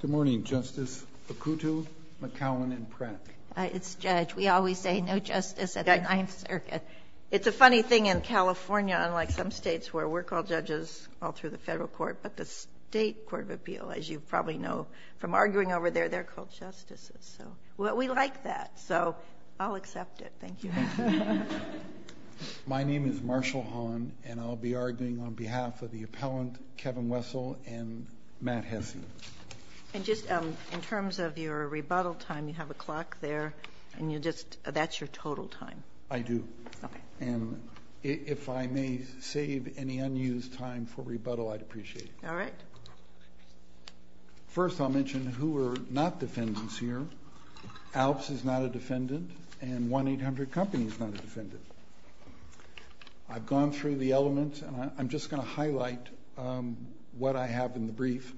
Good morning, Justice Okutu, McCowan, and Pratt. It's Judge. We always say no justice at the Ninth Circuit. It's a funny thing in California, unlike some states where we're called judges all through the federal court, but the State Court of Appeal, as you probably know from arguing over there, they're called justices. We like that, so I'll accept it. Thank you. My name is Marshall Hahn, and I'll be arguing on behalf of the appellant, Kevin Wessell, and Matt Hesse. And just in terms of your rebuttal time, you have a clock there, and that's your total time. I do. Okay. And if I may save any unused time for rebuttal, I'd appreciate it. All right. First, I'll mention who are not defendants here. ALPS is not a defendant, and 1-800-COMPANY is not a defendant. I've gone through the elements, and I'm just going to highlight what I have in the brief.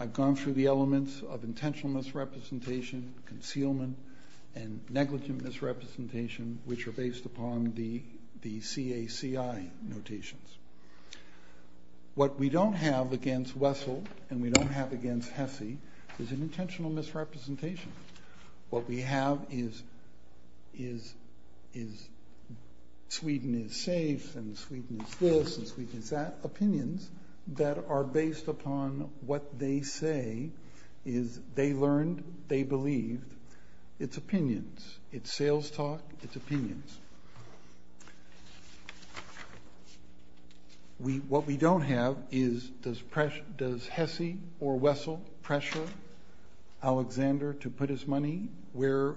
I've gone through the elements of intentional misrepresentation, concealment, and negligent misrepresentation, which are based upon the CACI notations. What we don't have against Wessell and we don't have against Hesse is an intentional misrepresentation. What we have is Sweden is safe and Sweden is this and Sweden is that, opinions that are based upon what they say is they learned, they believed. It's opinions. It's sales talk. It's opinions. What we don't have is does Hesse or Wessell pressure Alexander to put his money into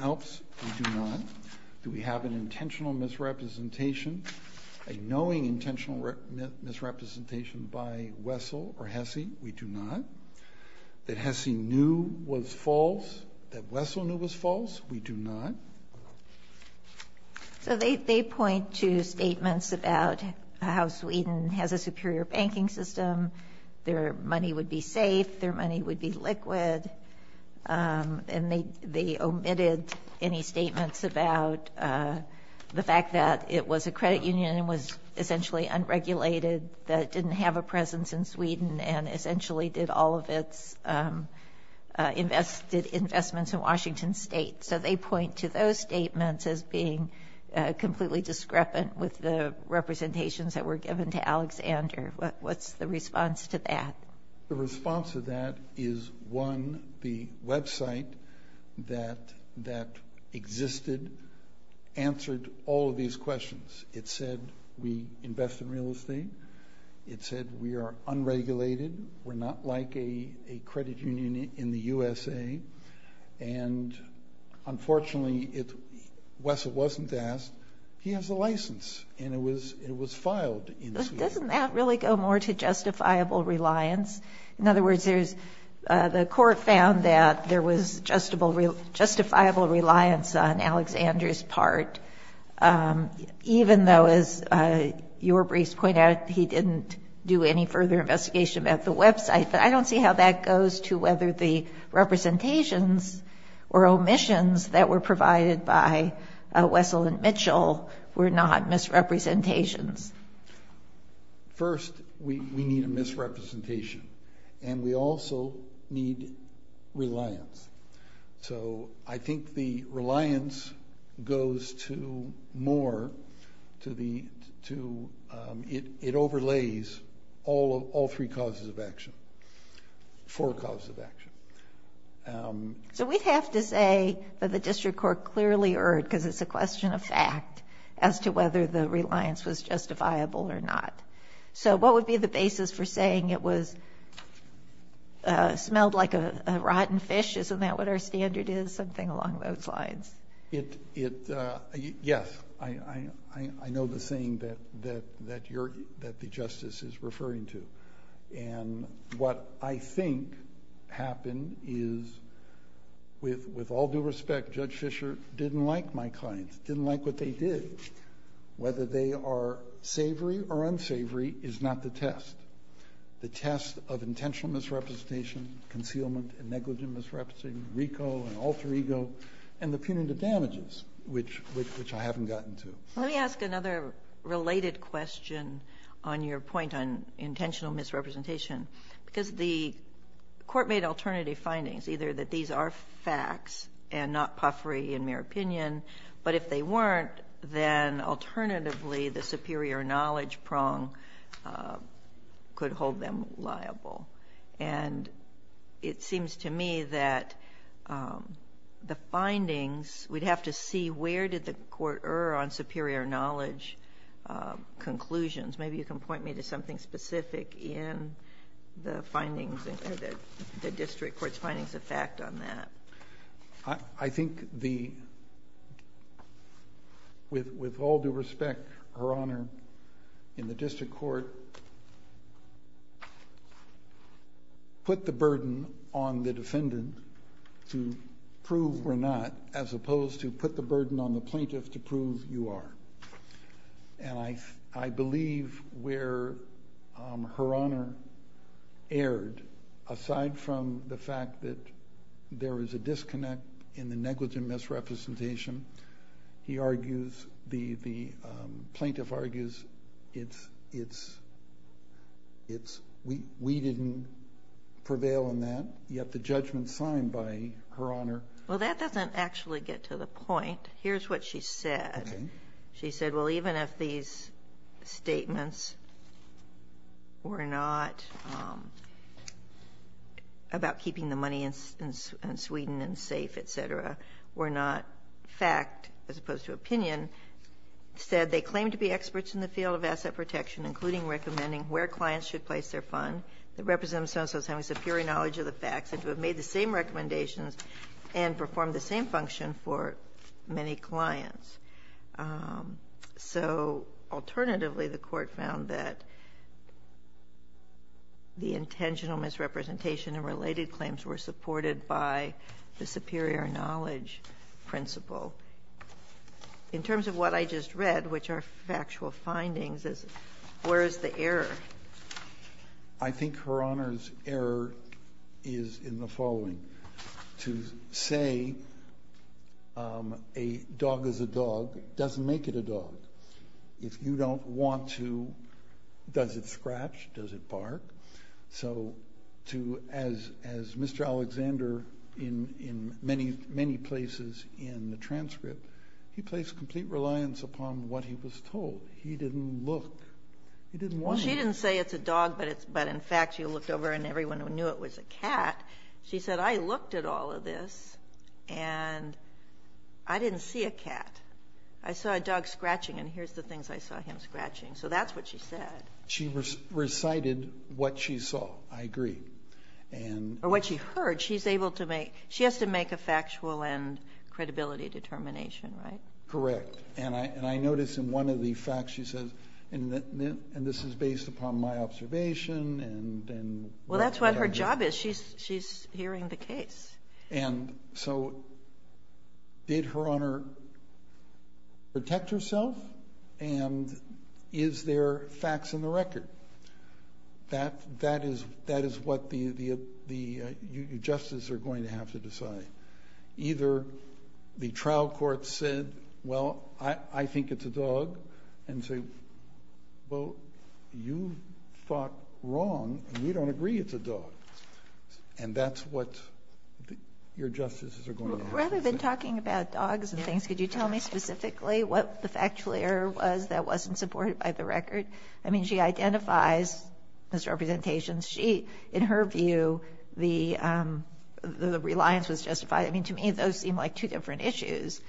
ALPS? We do not. Do we have an intentional misrepresentation, a knowing intentional misrepresentation by Wessell or Hesse? We do not. That Hesse knew was false, that Wessel knew was false? We do not. So they point to statements about how Sweden has a superior banking system, their money would be safe, their money would be liquid, and they omitted any statements about the fact that it was a credit union and was essentially unregulated, that it didn't have a presence in Sweden and essentially did all of its investments in Washington State. So they point to those statements as being completely discrepant with the representations that were given to Alexander. What's the response to that? The response to that is, one, the website that existed answered all of these questions. It said we invest in real estate. It said we are unregulated. We're not like a credit union in the USA. And, unfortunately, Wessel wasn't asked. He has a license, and it was filed in Sweden. Doesn't that really go more to justifiable reliance? In other words, there's the court found that there was justifiable reliance on Alexander's part, even though, as your briefs point out, he didn't do any further investigation about the website. But I don't see how that goes to whether the representations or omissions that were provided by Wessel and Mitchell were not misrepresentations. First, we need a misrepresentation, and we also need reliance. So I think the reliance goes to more to the two. It overlays all three causes of action, four causes of action. So we'd have to say that the district court clearly erred because it's a question of fact as to whether the reliance was justifiable or not. So what would be the basis for saying it smelled like a rotten fish? Isn't that what our standard is, something along those lines? Yes. I know the thing that the justice is referring to. And what I think happened is, with all due respect, Judge Fischer didn't like my clients, didn't like what they did. Whether they are savory or unsavory is not the test. The test of intentional misrepresentation, concealment and negligent misrepresentation, RICO and alter ego, and the punitive damages, which I haven't gotten to. Let me ask another related question on your point on intentional misrepresentation, because the Court made alternative findings, either that these are facts and not puffery and mere opinion, but if they weren't, then alternatively the superior knowledge prong could hold them liable. And it seems to me that the findings, we'd have to see where did the Court err on superior knowledge conclusions. Maybe you can point me to something specific in the findings, the district court's findings of fact on that. I think with all due respect, Her Honor, in the district court, put the burden on the defendant to prove or not, as opposed to put the burden on the plaintiff to prove you are. And I believe where Her Honor erred, aside from the fact that there is a disconnect in the negligent misrepresentation, he argues, the plaintiff argues, we didn't prevail on that, yet the judgment signed by Her Honor. Well, that doesn't actually get to the point. Here's what she said. She said, well, even if these statements were not about keeping the money in Sweden and safe, et cetera, were not fact, as opposed to opinion, said they claim to be experts in the field of asset protection, including recommending where clients should place their fund, that represent themselves as having superior knowledge of the facts, and to have made the same recommendations, and performed the same function for many clients. So alternatively, the court found that the intentional misrepresentation and related claims were supported by the superior knowledge principle. In terms of what I just read, which are factual findings, where is the error? I think Her Honor's error is in the following. To say a dog is a dog doesn't make it a dog. If you don't want to, does it scratch, does it bark? So as Mr. Alexander, in many places in the transcript, he placed complete reliance upon what he was told. He didn't look. He didn't want to. She didn't say it's a dog, but in fact, you looked over and everyone who knew it was a cat. She said, I looked at all of this, and I didn't see a cat. I saw a dog scratching, and here's the things I saw him scratching. So that's what she said. She recited what she saw. I agree. Or what she heard. She has to make a factual and credibility determination, right? Correct. And I notice in one of the facts she says, and this is based upon my observation. Well, that's what her job is. She's hearing the case. And so did Her Honor protect herself? And is there facts in the record? That is what the justices are going to have to decide. Either the trial court said, well, I think it's a dog, and say, well, you thought wrong, and we don't agree it's a dog. And that's what your justices are going to have to say. Rather than talking about dogs and things, could you tell me specifically what the factual error was that wasn't supported by the record? I mean, she identifies, Ms. Representations, she, in her view, the reliance was justified. I mean, to me, those seem like two different issues.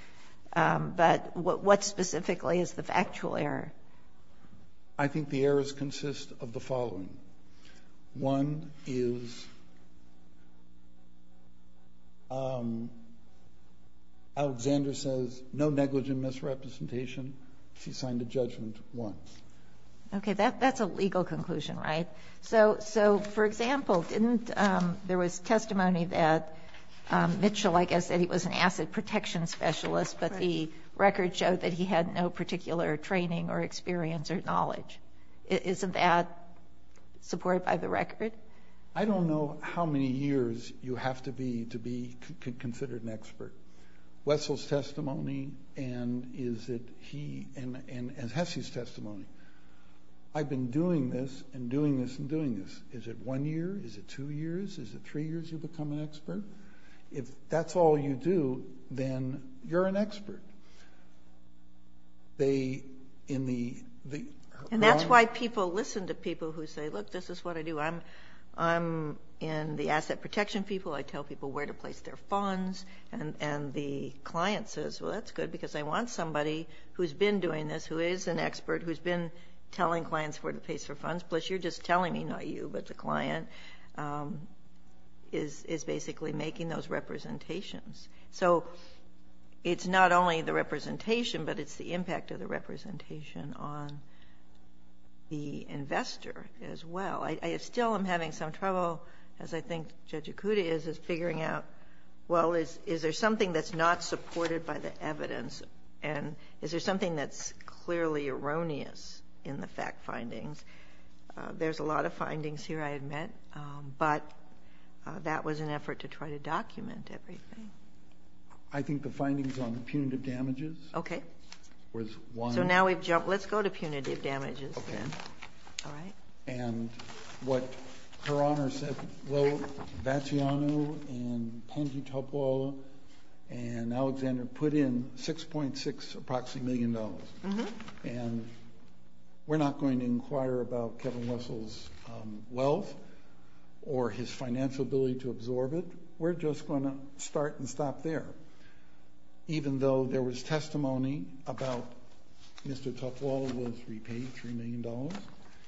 But what specifically is the factual error? I think the errors consist of the following. One is Alexander says no negligent misrepresentation. She signed a judgment once. Okay. That's a legal conclusion, right? So, for example, didn't there was testimony that Mitchell, I guess, that he was an asset protection specialist, but the record showed that he had no particular training or experience or knowledge. Isn't that supported by the record? I don't know how many years you have to be considered an expert. Wessel's testimony and Hesse's testimony. I've been doing this and doing this and doing this. Is it one year? Is it two years? Is it three years you become an expert? If that's all you do, then you're an expert. And that's why people listen to people who say, look, this is what I do. I'm in the asset protection people. I tell people where to place their funds. And the client says, well, that's good because I want somebody who's been doing this, who is an expert, who's been telling clients where to place their funds, plus you're just telling me, not you, but the client is basically making those representations. So it's not only the representation, but it's the impact of the representation on the investor as well. I still am having some trouble, as I think Judge Ikuda is, is figuring out, well, is there something that's not supported by the evidence? And is there something that's clearly erroneous in the fact findings? There's a lot of findings here, I admit. But that was an effort to try to document everything. I think the findings on punitive damages was one. So now we've jumped. Let's go to punitive damages then. All right. And what Her Honor said, Vacciano and Tangi Tupwala and Alexander put in $6.6 approximately million. And we're not going to inquire about Kevin Russell's wealth or his financial ability to absorb it. We're just going to start and stop there. Even though there was testimony about Mr. Tupwala was repaid $3 million.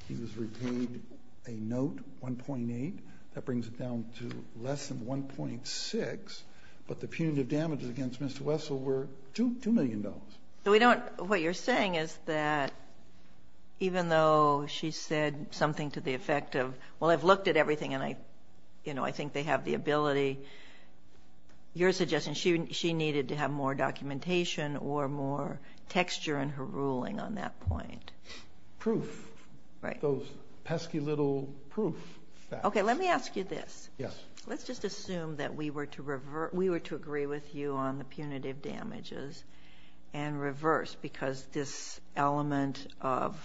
He was repaid a note, $1.8. That brings it down to less than $1.6. But the punitive damages against Mr. Russell were $2 million. What you're saying is that even though she said something to the effect of, well, I've looked at everything, and I think they have the ability. Your suggestion, she needed to have more documentation or more texture in her ruling on that point. Proof. Right. Those pesky little proof facts. Okay. Let me ask you this. Yes. Let's just assume that we were to agree with you on the punitive damages and reverse because this element of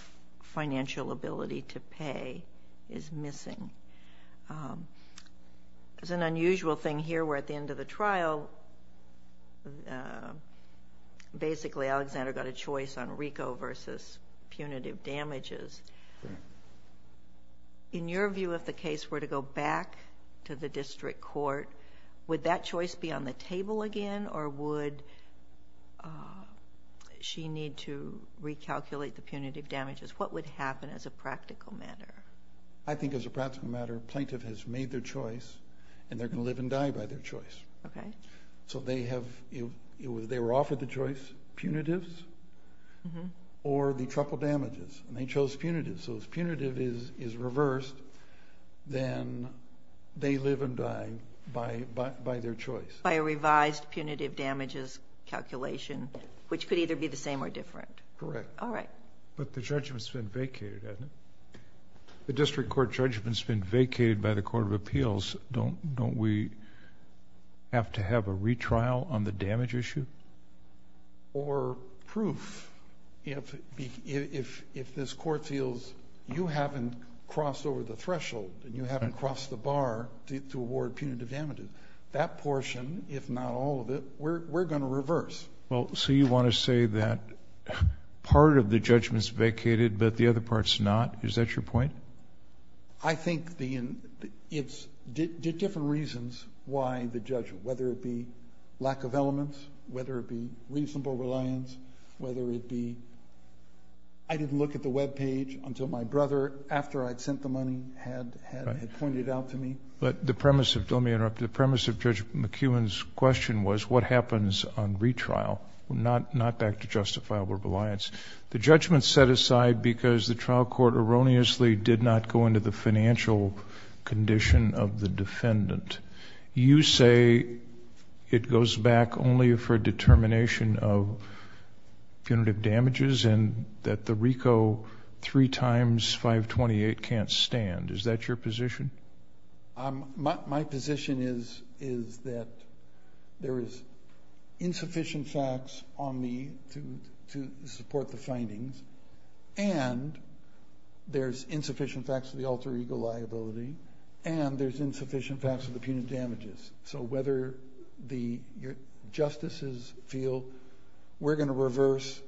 financial ability to pay is missing. It's an unusual thing here. We're at the end of the trial. Basically, Alexander got a choice on RICO versus punitive damages. Correct. In your view, if the case were to go back to the district court, would that choice be on the table again or would she need to recalculate the punitive damages? What would happen as a practical matter? I think as a practical matter, a plaintiff has made their choice and they're going to live and die by their choice. Okay. So they were offered the choice, punitives or the triple damages, and they chose punitives. So if punitive is reversed, then they live and die by their choice. By a revised punitive damages calculation, which could either be the same or different. Correct. All right. But the judgment's been vacated, hasn't it? The district court judgment's been vacated by the Court of Appeals. Don't we have to have a retrial on the damage issue? Or proof. If this Court feels you haven't crossed over the threshold and you haven't crossed the bar to award punitive damages, that portion, if not all of it, we're going to reverse. So you want to say that part of the judgment's vacated, but the other part's not? Is that your point? I think it's different reasons why the judge, whether it be lack of elements, whether it be reasonable reliance, whether it be I didn't look at the webpage until my brother, after I'd sent the money, had pointed out to me. Let me interrupt. The premise of Judge McEwen's question was what happens on retrial, not back to justifiable reliance. The judgment's set aside because the trial court erroneously did not go into the financial condition of the defendant. You say it goes back only for determination of punitive damages and that the RICO 3 times 528 can't stand. Is that your position? My position is that there is insufficient facts on me to support the findings, and there's insufficient facts of the alter ego liability, and there's insufficient facts of the punitive damages. So whether the justices feel we're going to reverse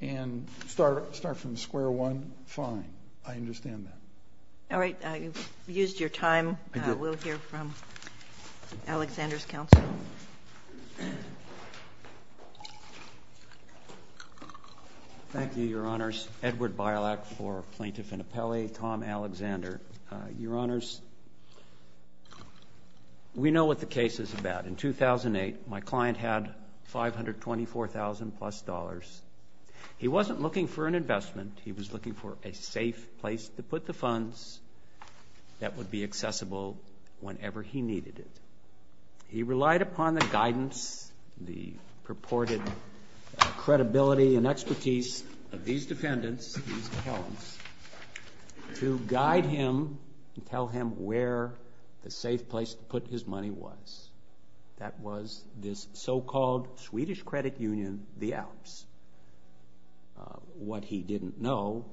and start from square one, fine. I understand that. All right. You've used your time. We'll hear from Alexander's counsel. Thank you, Your Honors. Edward Bilak for Plaintiff and Appellee, Tom Alexander. Your Honors, we know what the case is about. In 2008, my client had $524,000-plus. He wasn't looking for an investment. He was looking for a safe place to put the funds that would be accessible whenever he needed it. He relied upon the guidance, the purported credibility and expertise of these defendants, these appellants, to guide him and tell him where the safe place to put his money was. That was this so-called Swedish credit union, the Alps. What he didn't know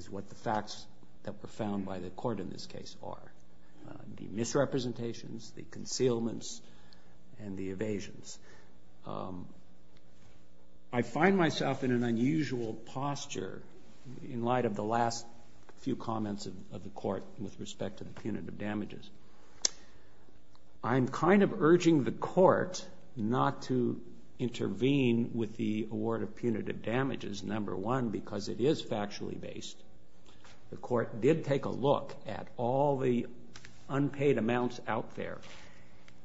is what the facts that were found by the court in this case are. The misrepresentations, the concealments, and the evasions. I find myself in an unusual posture in light of the last few comments of the court with respect to the punitive damages. I'm kind of urging the court not to intervene with the award of punitive damages, number one, because it is factually based. The court did take a look at all the unpaid amounts out there,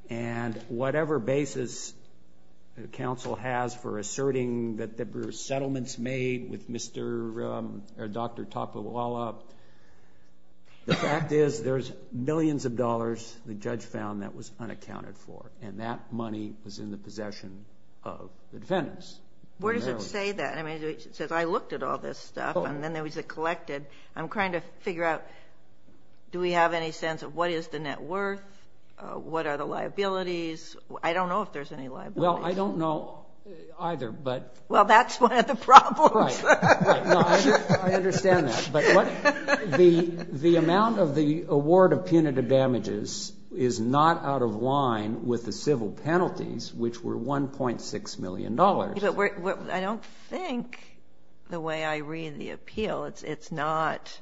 and whatever basis the counsel has for asserting that there were settlements made with Mr. or Dr. Topoala, the fact is there's millions of dollars, the judge found, that was unaccounted for, and that money was in the possession of the defendants. Where does it say that? I mean, it says, I looked at all this stuff, and then there was the collected. I'm trying to figure out, do we have any sense of what is the net worth? What are the liabilities? I don't know if there's any liabilities. Well, I don't know either. Well, that's one of the problems. I understand that. The amount of the award of punitive damages is not out of line with the civil penalties, which were $1.6 million. I don't think the way I read the appeal, it's not,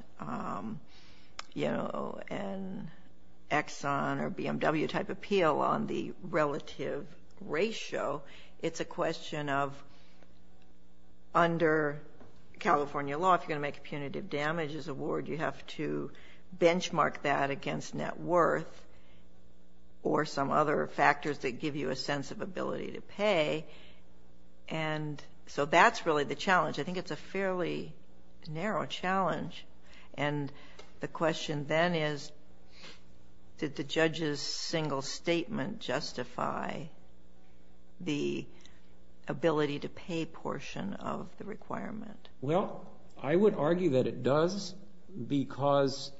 you know, an Exxon or BMW type appeal on the relative ratio. It's a question of under California law, if you're going to make a punitive damages award, you have to benchmark that against net worth or some other factors that give you a sense of ability to pay, and so that's really the challenge. I think it's a fairly narrow challenge, and the question then is did the judge's single statement justify the ability to pay portion of the requirement? Well, I would argue that it does because,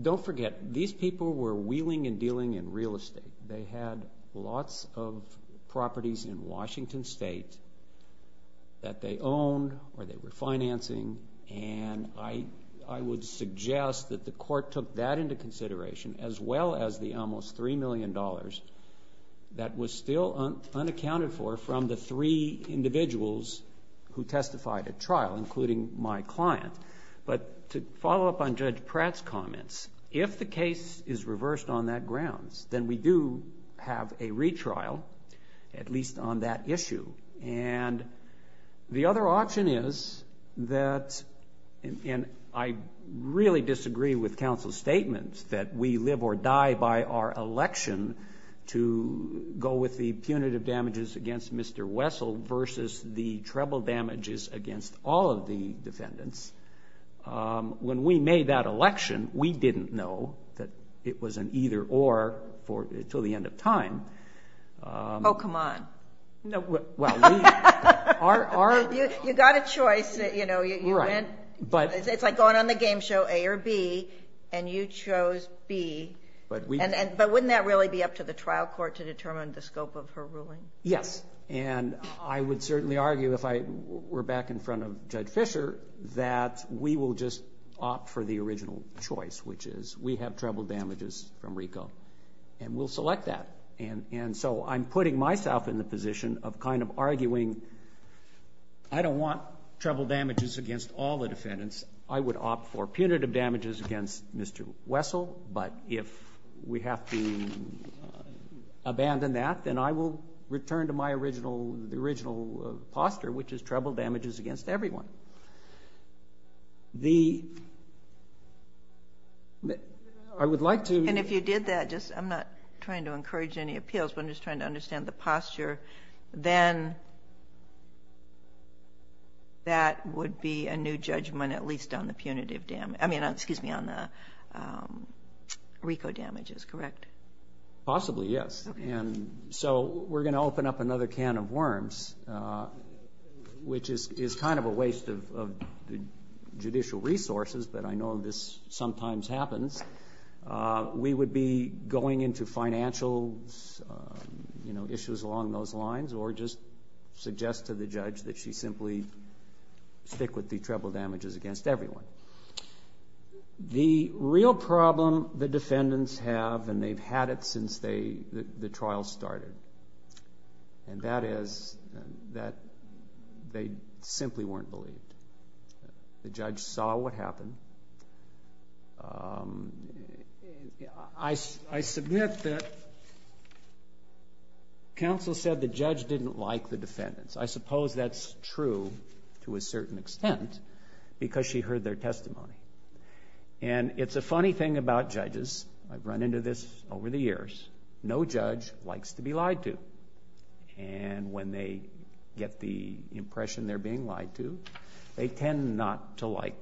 don't forget, these people were wheeling and dealing in real estate. They had lots of properties in Washington State that they owned or they were financing, and I would suggest that the court took that into consideration as well as the almost $3 million that was still unaccounted for from the three individuals who testified at trial, including my client. But to follow up on Judge Pratt's comments, if the case is reversed on that grounds, then we do have a retrial, at least on that issue. And the other option is that, and I really disagree with counsel's statements that we live or die by our election to go with the punitive damages against Mr. Wessel versus the treble damages against all of the defendants. When we made that election, we didn't know that it was an either-or until the end of time. Oh, come on. You got a choice. It's like going on the game show A or B, and you chose B. But wouldn't that really be up to the trial court to determine the scope of her ruling? Yes, and I would certainly argue if I were back in front of Judge Fischer that we will just opt for the original choice, which is we have treble damages from RICO, and we'll select that. And so I'm putting myself in the position of kind of arguing I don't want treble damages against all the defendants. I would opt for punitive damages against Mr. Wessel, but if we have to abandon that, then I will return to my original posture, which is treble damages against everyone. And if you did that, I'm not trying to encourage any appeals, but I'm just trying to understand the posture, then that would be a new judgment, at least on the punitive damages. I mean, excuse me, on the RICO damages, correct? Possibly, yes. So we're going to open up another can of worms, which is kind of a waste of judicial resources, but I know this sometimes happens. We would be going into financial issues along those lines or just suggest to the judge that she simply stick with the treble damages against everyone. The real problem the defendants have, and they've had it since the trial started, and that is that they simply weren't believed. The judge saw what happened. I submit that counsel said the judge didn't like the defendants. I suppose that's true to a certain extent because she heard their testimony. And it's a funny thing about judges. I've run into this over the years. No judge likes to be lied to, and when they get the impression they're being lied to, they tend not to like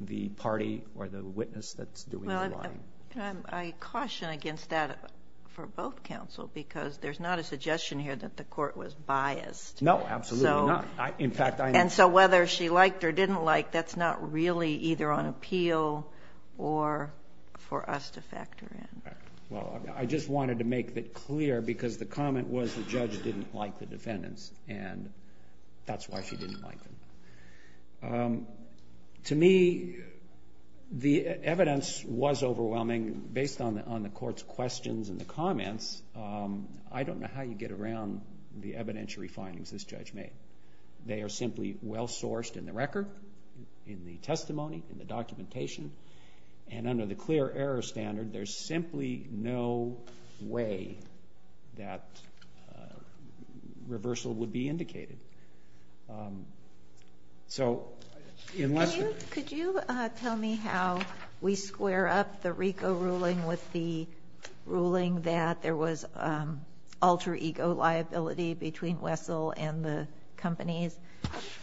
the party or the witness that's doing the lying. I caution against that for both counsel because there's not a suggestion here that the court was biased. No, absolutely not. And so whether she liked or didn't like, that's not really either on appeal or for us to factor in. Well, I just wanted to make that clear because the comment was the judge didn't like the defendants, and that's why she didn't like them. To me, the evidence was overwhelming. Based on the court's questions and the comments, I don't know how you get around the evidentiary findings this judge made. They are simply well sourced in the record, in the testimony, in the documentation, and under the clear error standard, there's simply no way that reversal would be indicated. So unless you're going to do that. Could you tell me how we square up the RICO ruling with the ruling that there was alter ego liability between Wessel and the companies?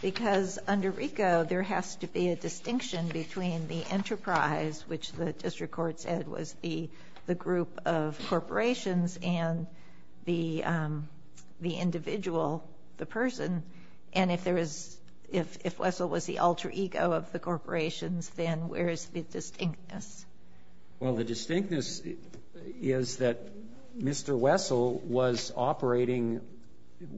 Because under RICO, there has to be a distinction between the enterprise, which the district court said was the group of corporations and the individual, the person. And if Wessel was the alter ego of the corporations, then where is the distinctness? Well, the distinctness is that Mr. Wessel was operating,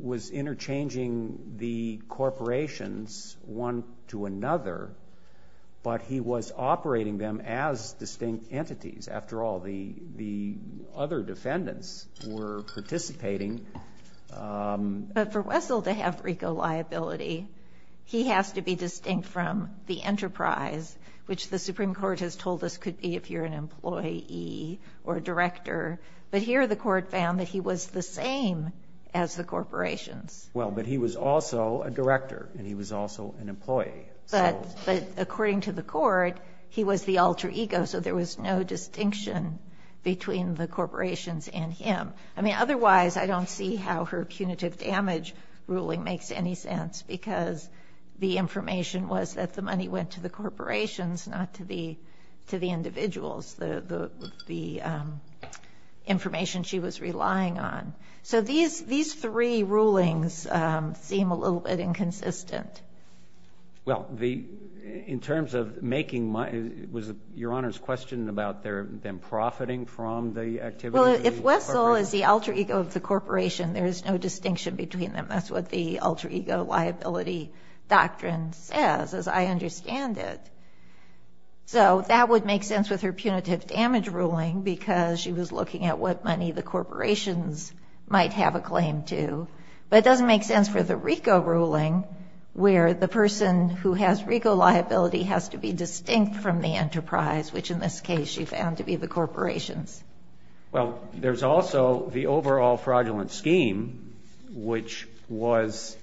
was interchanging the corporations one to another, but he was operating them as distinct entities. After all, the other defendants were participating. But for Wessel to have RICO liability, he has to be distinct from the enterprise, which the Supreme Court has told us could be if you're an employee or a director. But here the court found that he was the same as the corporations. Well, but he was also a director and he was also an employee. But according to the court, he was the alter ego, so there was no distinction between the corporations and him. I mean, otherwise I don't see how her punitive damage ruling makes any sense because the information was that the money went to the corporations, not to the individuals, the information she was relying on. So these three rulings seem a little bit inconsistent. Well, in terms of making money, was Your Honor's question about them profiting from the activity? Well, if Wessel is the alter ego of the corporation, there is no distinction between them. That's what the alter ego liability doctrine says, as I understand it. So that would make sense with her punitive damage ruling because she was looking at what money the corporations might have a claim to. But it doesn't make sense for the RICO ruling where the person who has RICO liability has to be distinct from the enterprise, which in this case she found to be the corporations. Well, there's also the overall fraudulent scheme, which was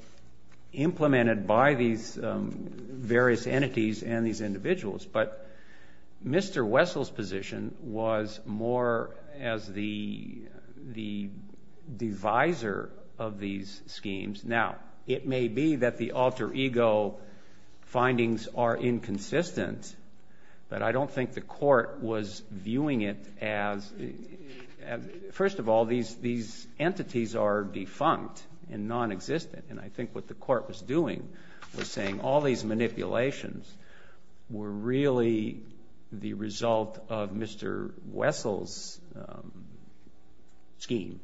implemented by these various entities and these individuals. But Mr. Wessel's position was more as the divisor of these schemes. Now, it may be that the alter ego findings are inconsistent, but I don't think the court was viewing it as— first of all, these entities are defunct and nonexistent, and I think what the court was doing was saying all these manipulations were really the result of Mr. Wessel's scheme.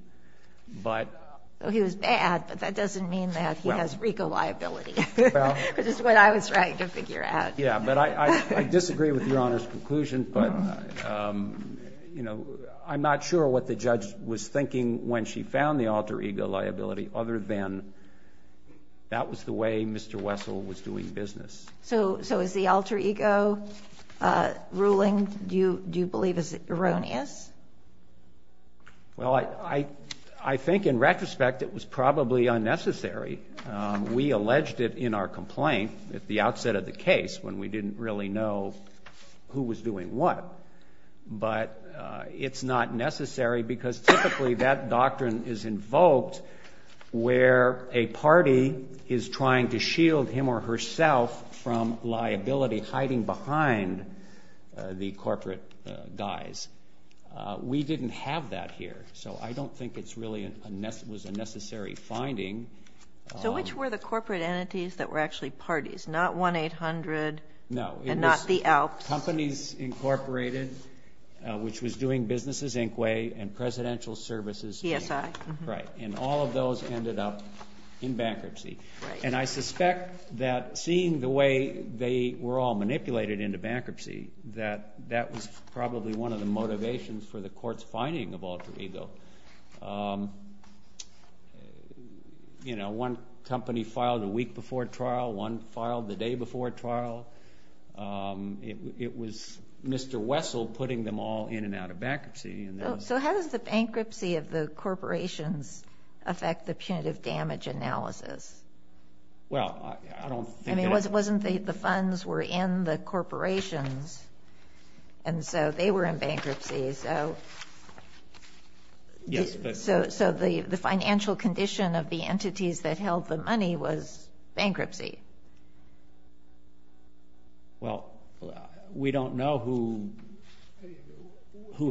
He was bad, but that doesn't mean that he has RICO liability, which is what I was trying to figure out. Yeah, but I disagree with Your Honor's conclusion, but I'm not sure what the judge was thinking when she found the alter ego liability other than that was the way Mr. Wessel was doing business. So is the alter ego ruling, do you believe, erroneous? Well, I think in retrospect it was probably unnecessary. We alleged it in our complaint at the outset of the case when we didn't really know who was doing what. But it's not necessary because typically that doctrine is invoked where a party is trying to shield him or herself from liability hiding behind the corporate guys. We didn't have that here, so I don't think it was a necessary finding. So which were the corporate entities that were actually parties? Not 1-800 and not the Alps? Companies Incorporated, which was doing business as Inquay, and Presidential Services. PSI. Right, and all of those ended up in bankruptcy. And I suspect that seeing the way they were all manipulated into bankruptcy that that was probably one of the motivations for the court's finding of alter ego. One company filed a week before trial, one filed the day before trial. It was Mr. Wessel putting them all in and out of bankruptcy. So how does the bankruptcy of the corporations affect the punitive damage analysis? Well, I don't think it was. I mean, wasn't the funds were in the corporations, and so they were in bankruptcy. So the financial condition of the entities that held the money was bankruptcy. Well, we don't know who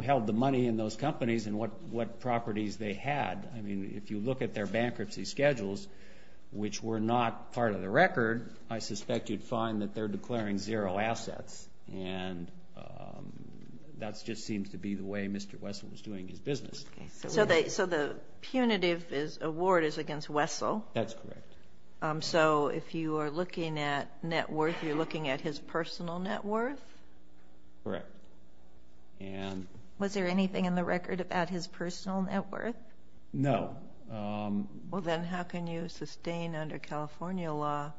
held the money in those companies and what properties they had. I mean, if you look at their bankruptcy schedules, which were not part of the record, I suspect you'd find that they're declaring zero assets. And that just seems to be the way Mr. Wessel was doing his business. So the punitive award is against Wessel? That's correct. So if you are looking at net worth, you're looking at his personal net worth? Correct. Was there anything in the record about his personal net worth? No. Well, then how can you sustain under California law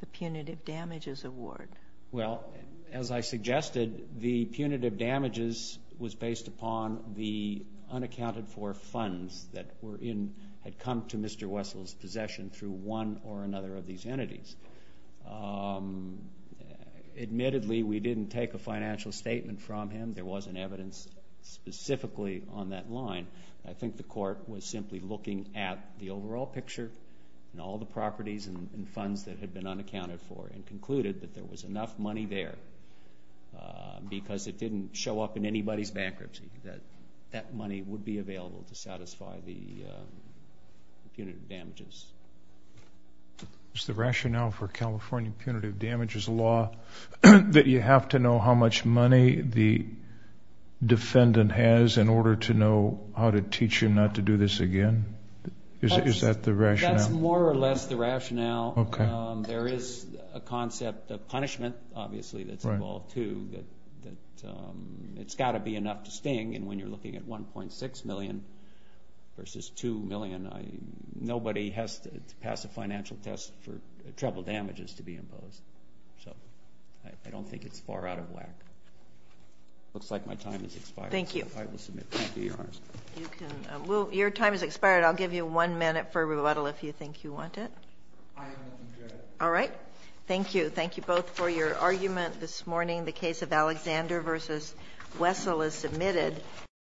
the punitive damages award? Well, as I suggested, the punitive damages was based upon the unaccounted-for funds that had come to Mr. Wessel's possession through one or another of these entities. Admittedly, we didn't take a financial statement from him. There wasn't evidence specifically on that line. I think the court was simply looking at the overall picture and all the properties and funds that had been unaccounted for and concluded that there was enough money there because it didn't show up in anybody's bankruptcy that that money would be available to satisfy the punitive damages. Is the rationale for California punitive damages law that you have to know how much money the defendant has in order to know how to teach him not to do this again? Is that the rationale? I think that's more or less the rationale. Okay. There is a concept of punishment, obviously, that's involved, too, that it's got to be enough to sting. And when you're looking at $1.6 million versus $2 million, nobody has to pass a financial test for treble damages to be imposed. So I don't think it's far out of whack. It looks like my time has expired. Thank you. I will submit. Thank you, Your Honor. Your time has expired. I'll give you one minute for rebuttal if you think you want it. I don't want to do it. All right. Thank you. Thank you both for your argument this morning. The case of Alexander v. Wessel is submitted.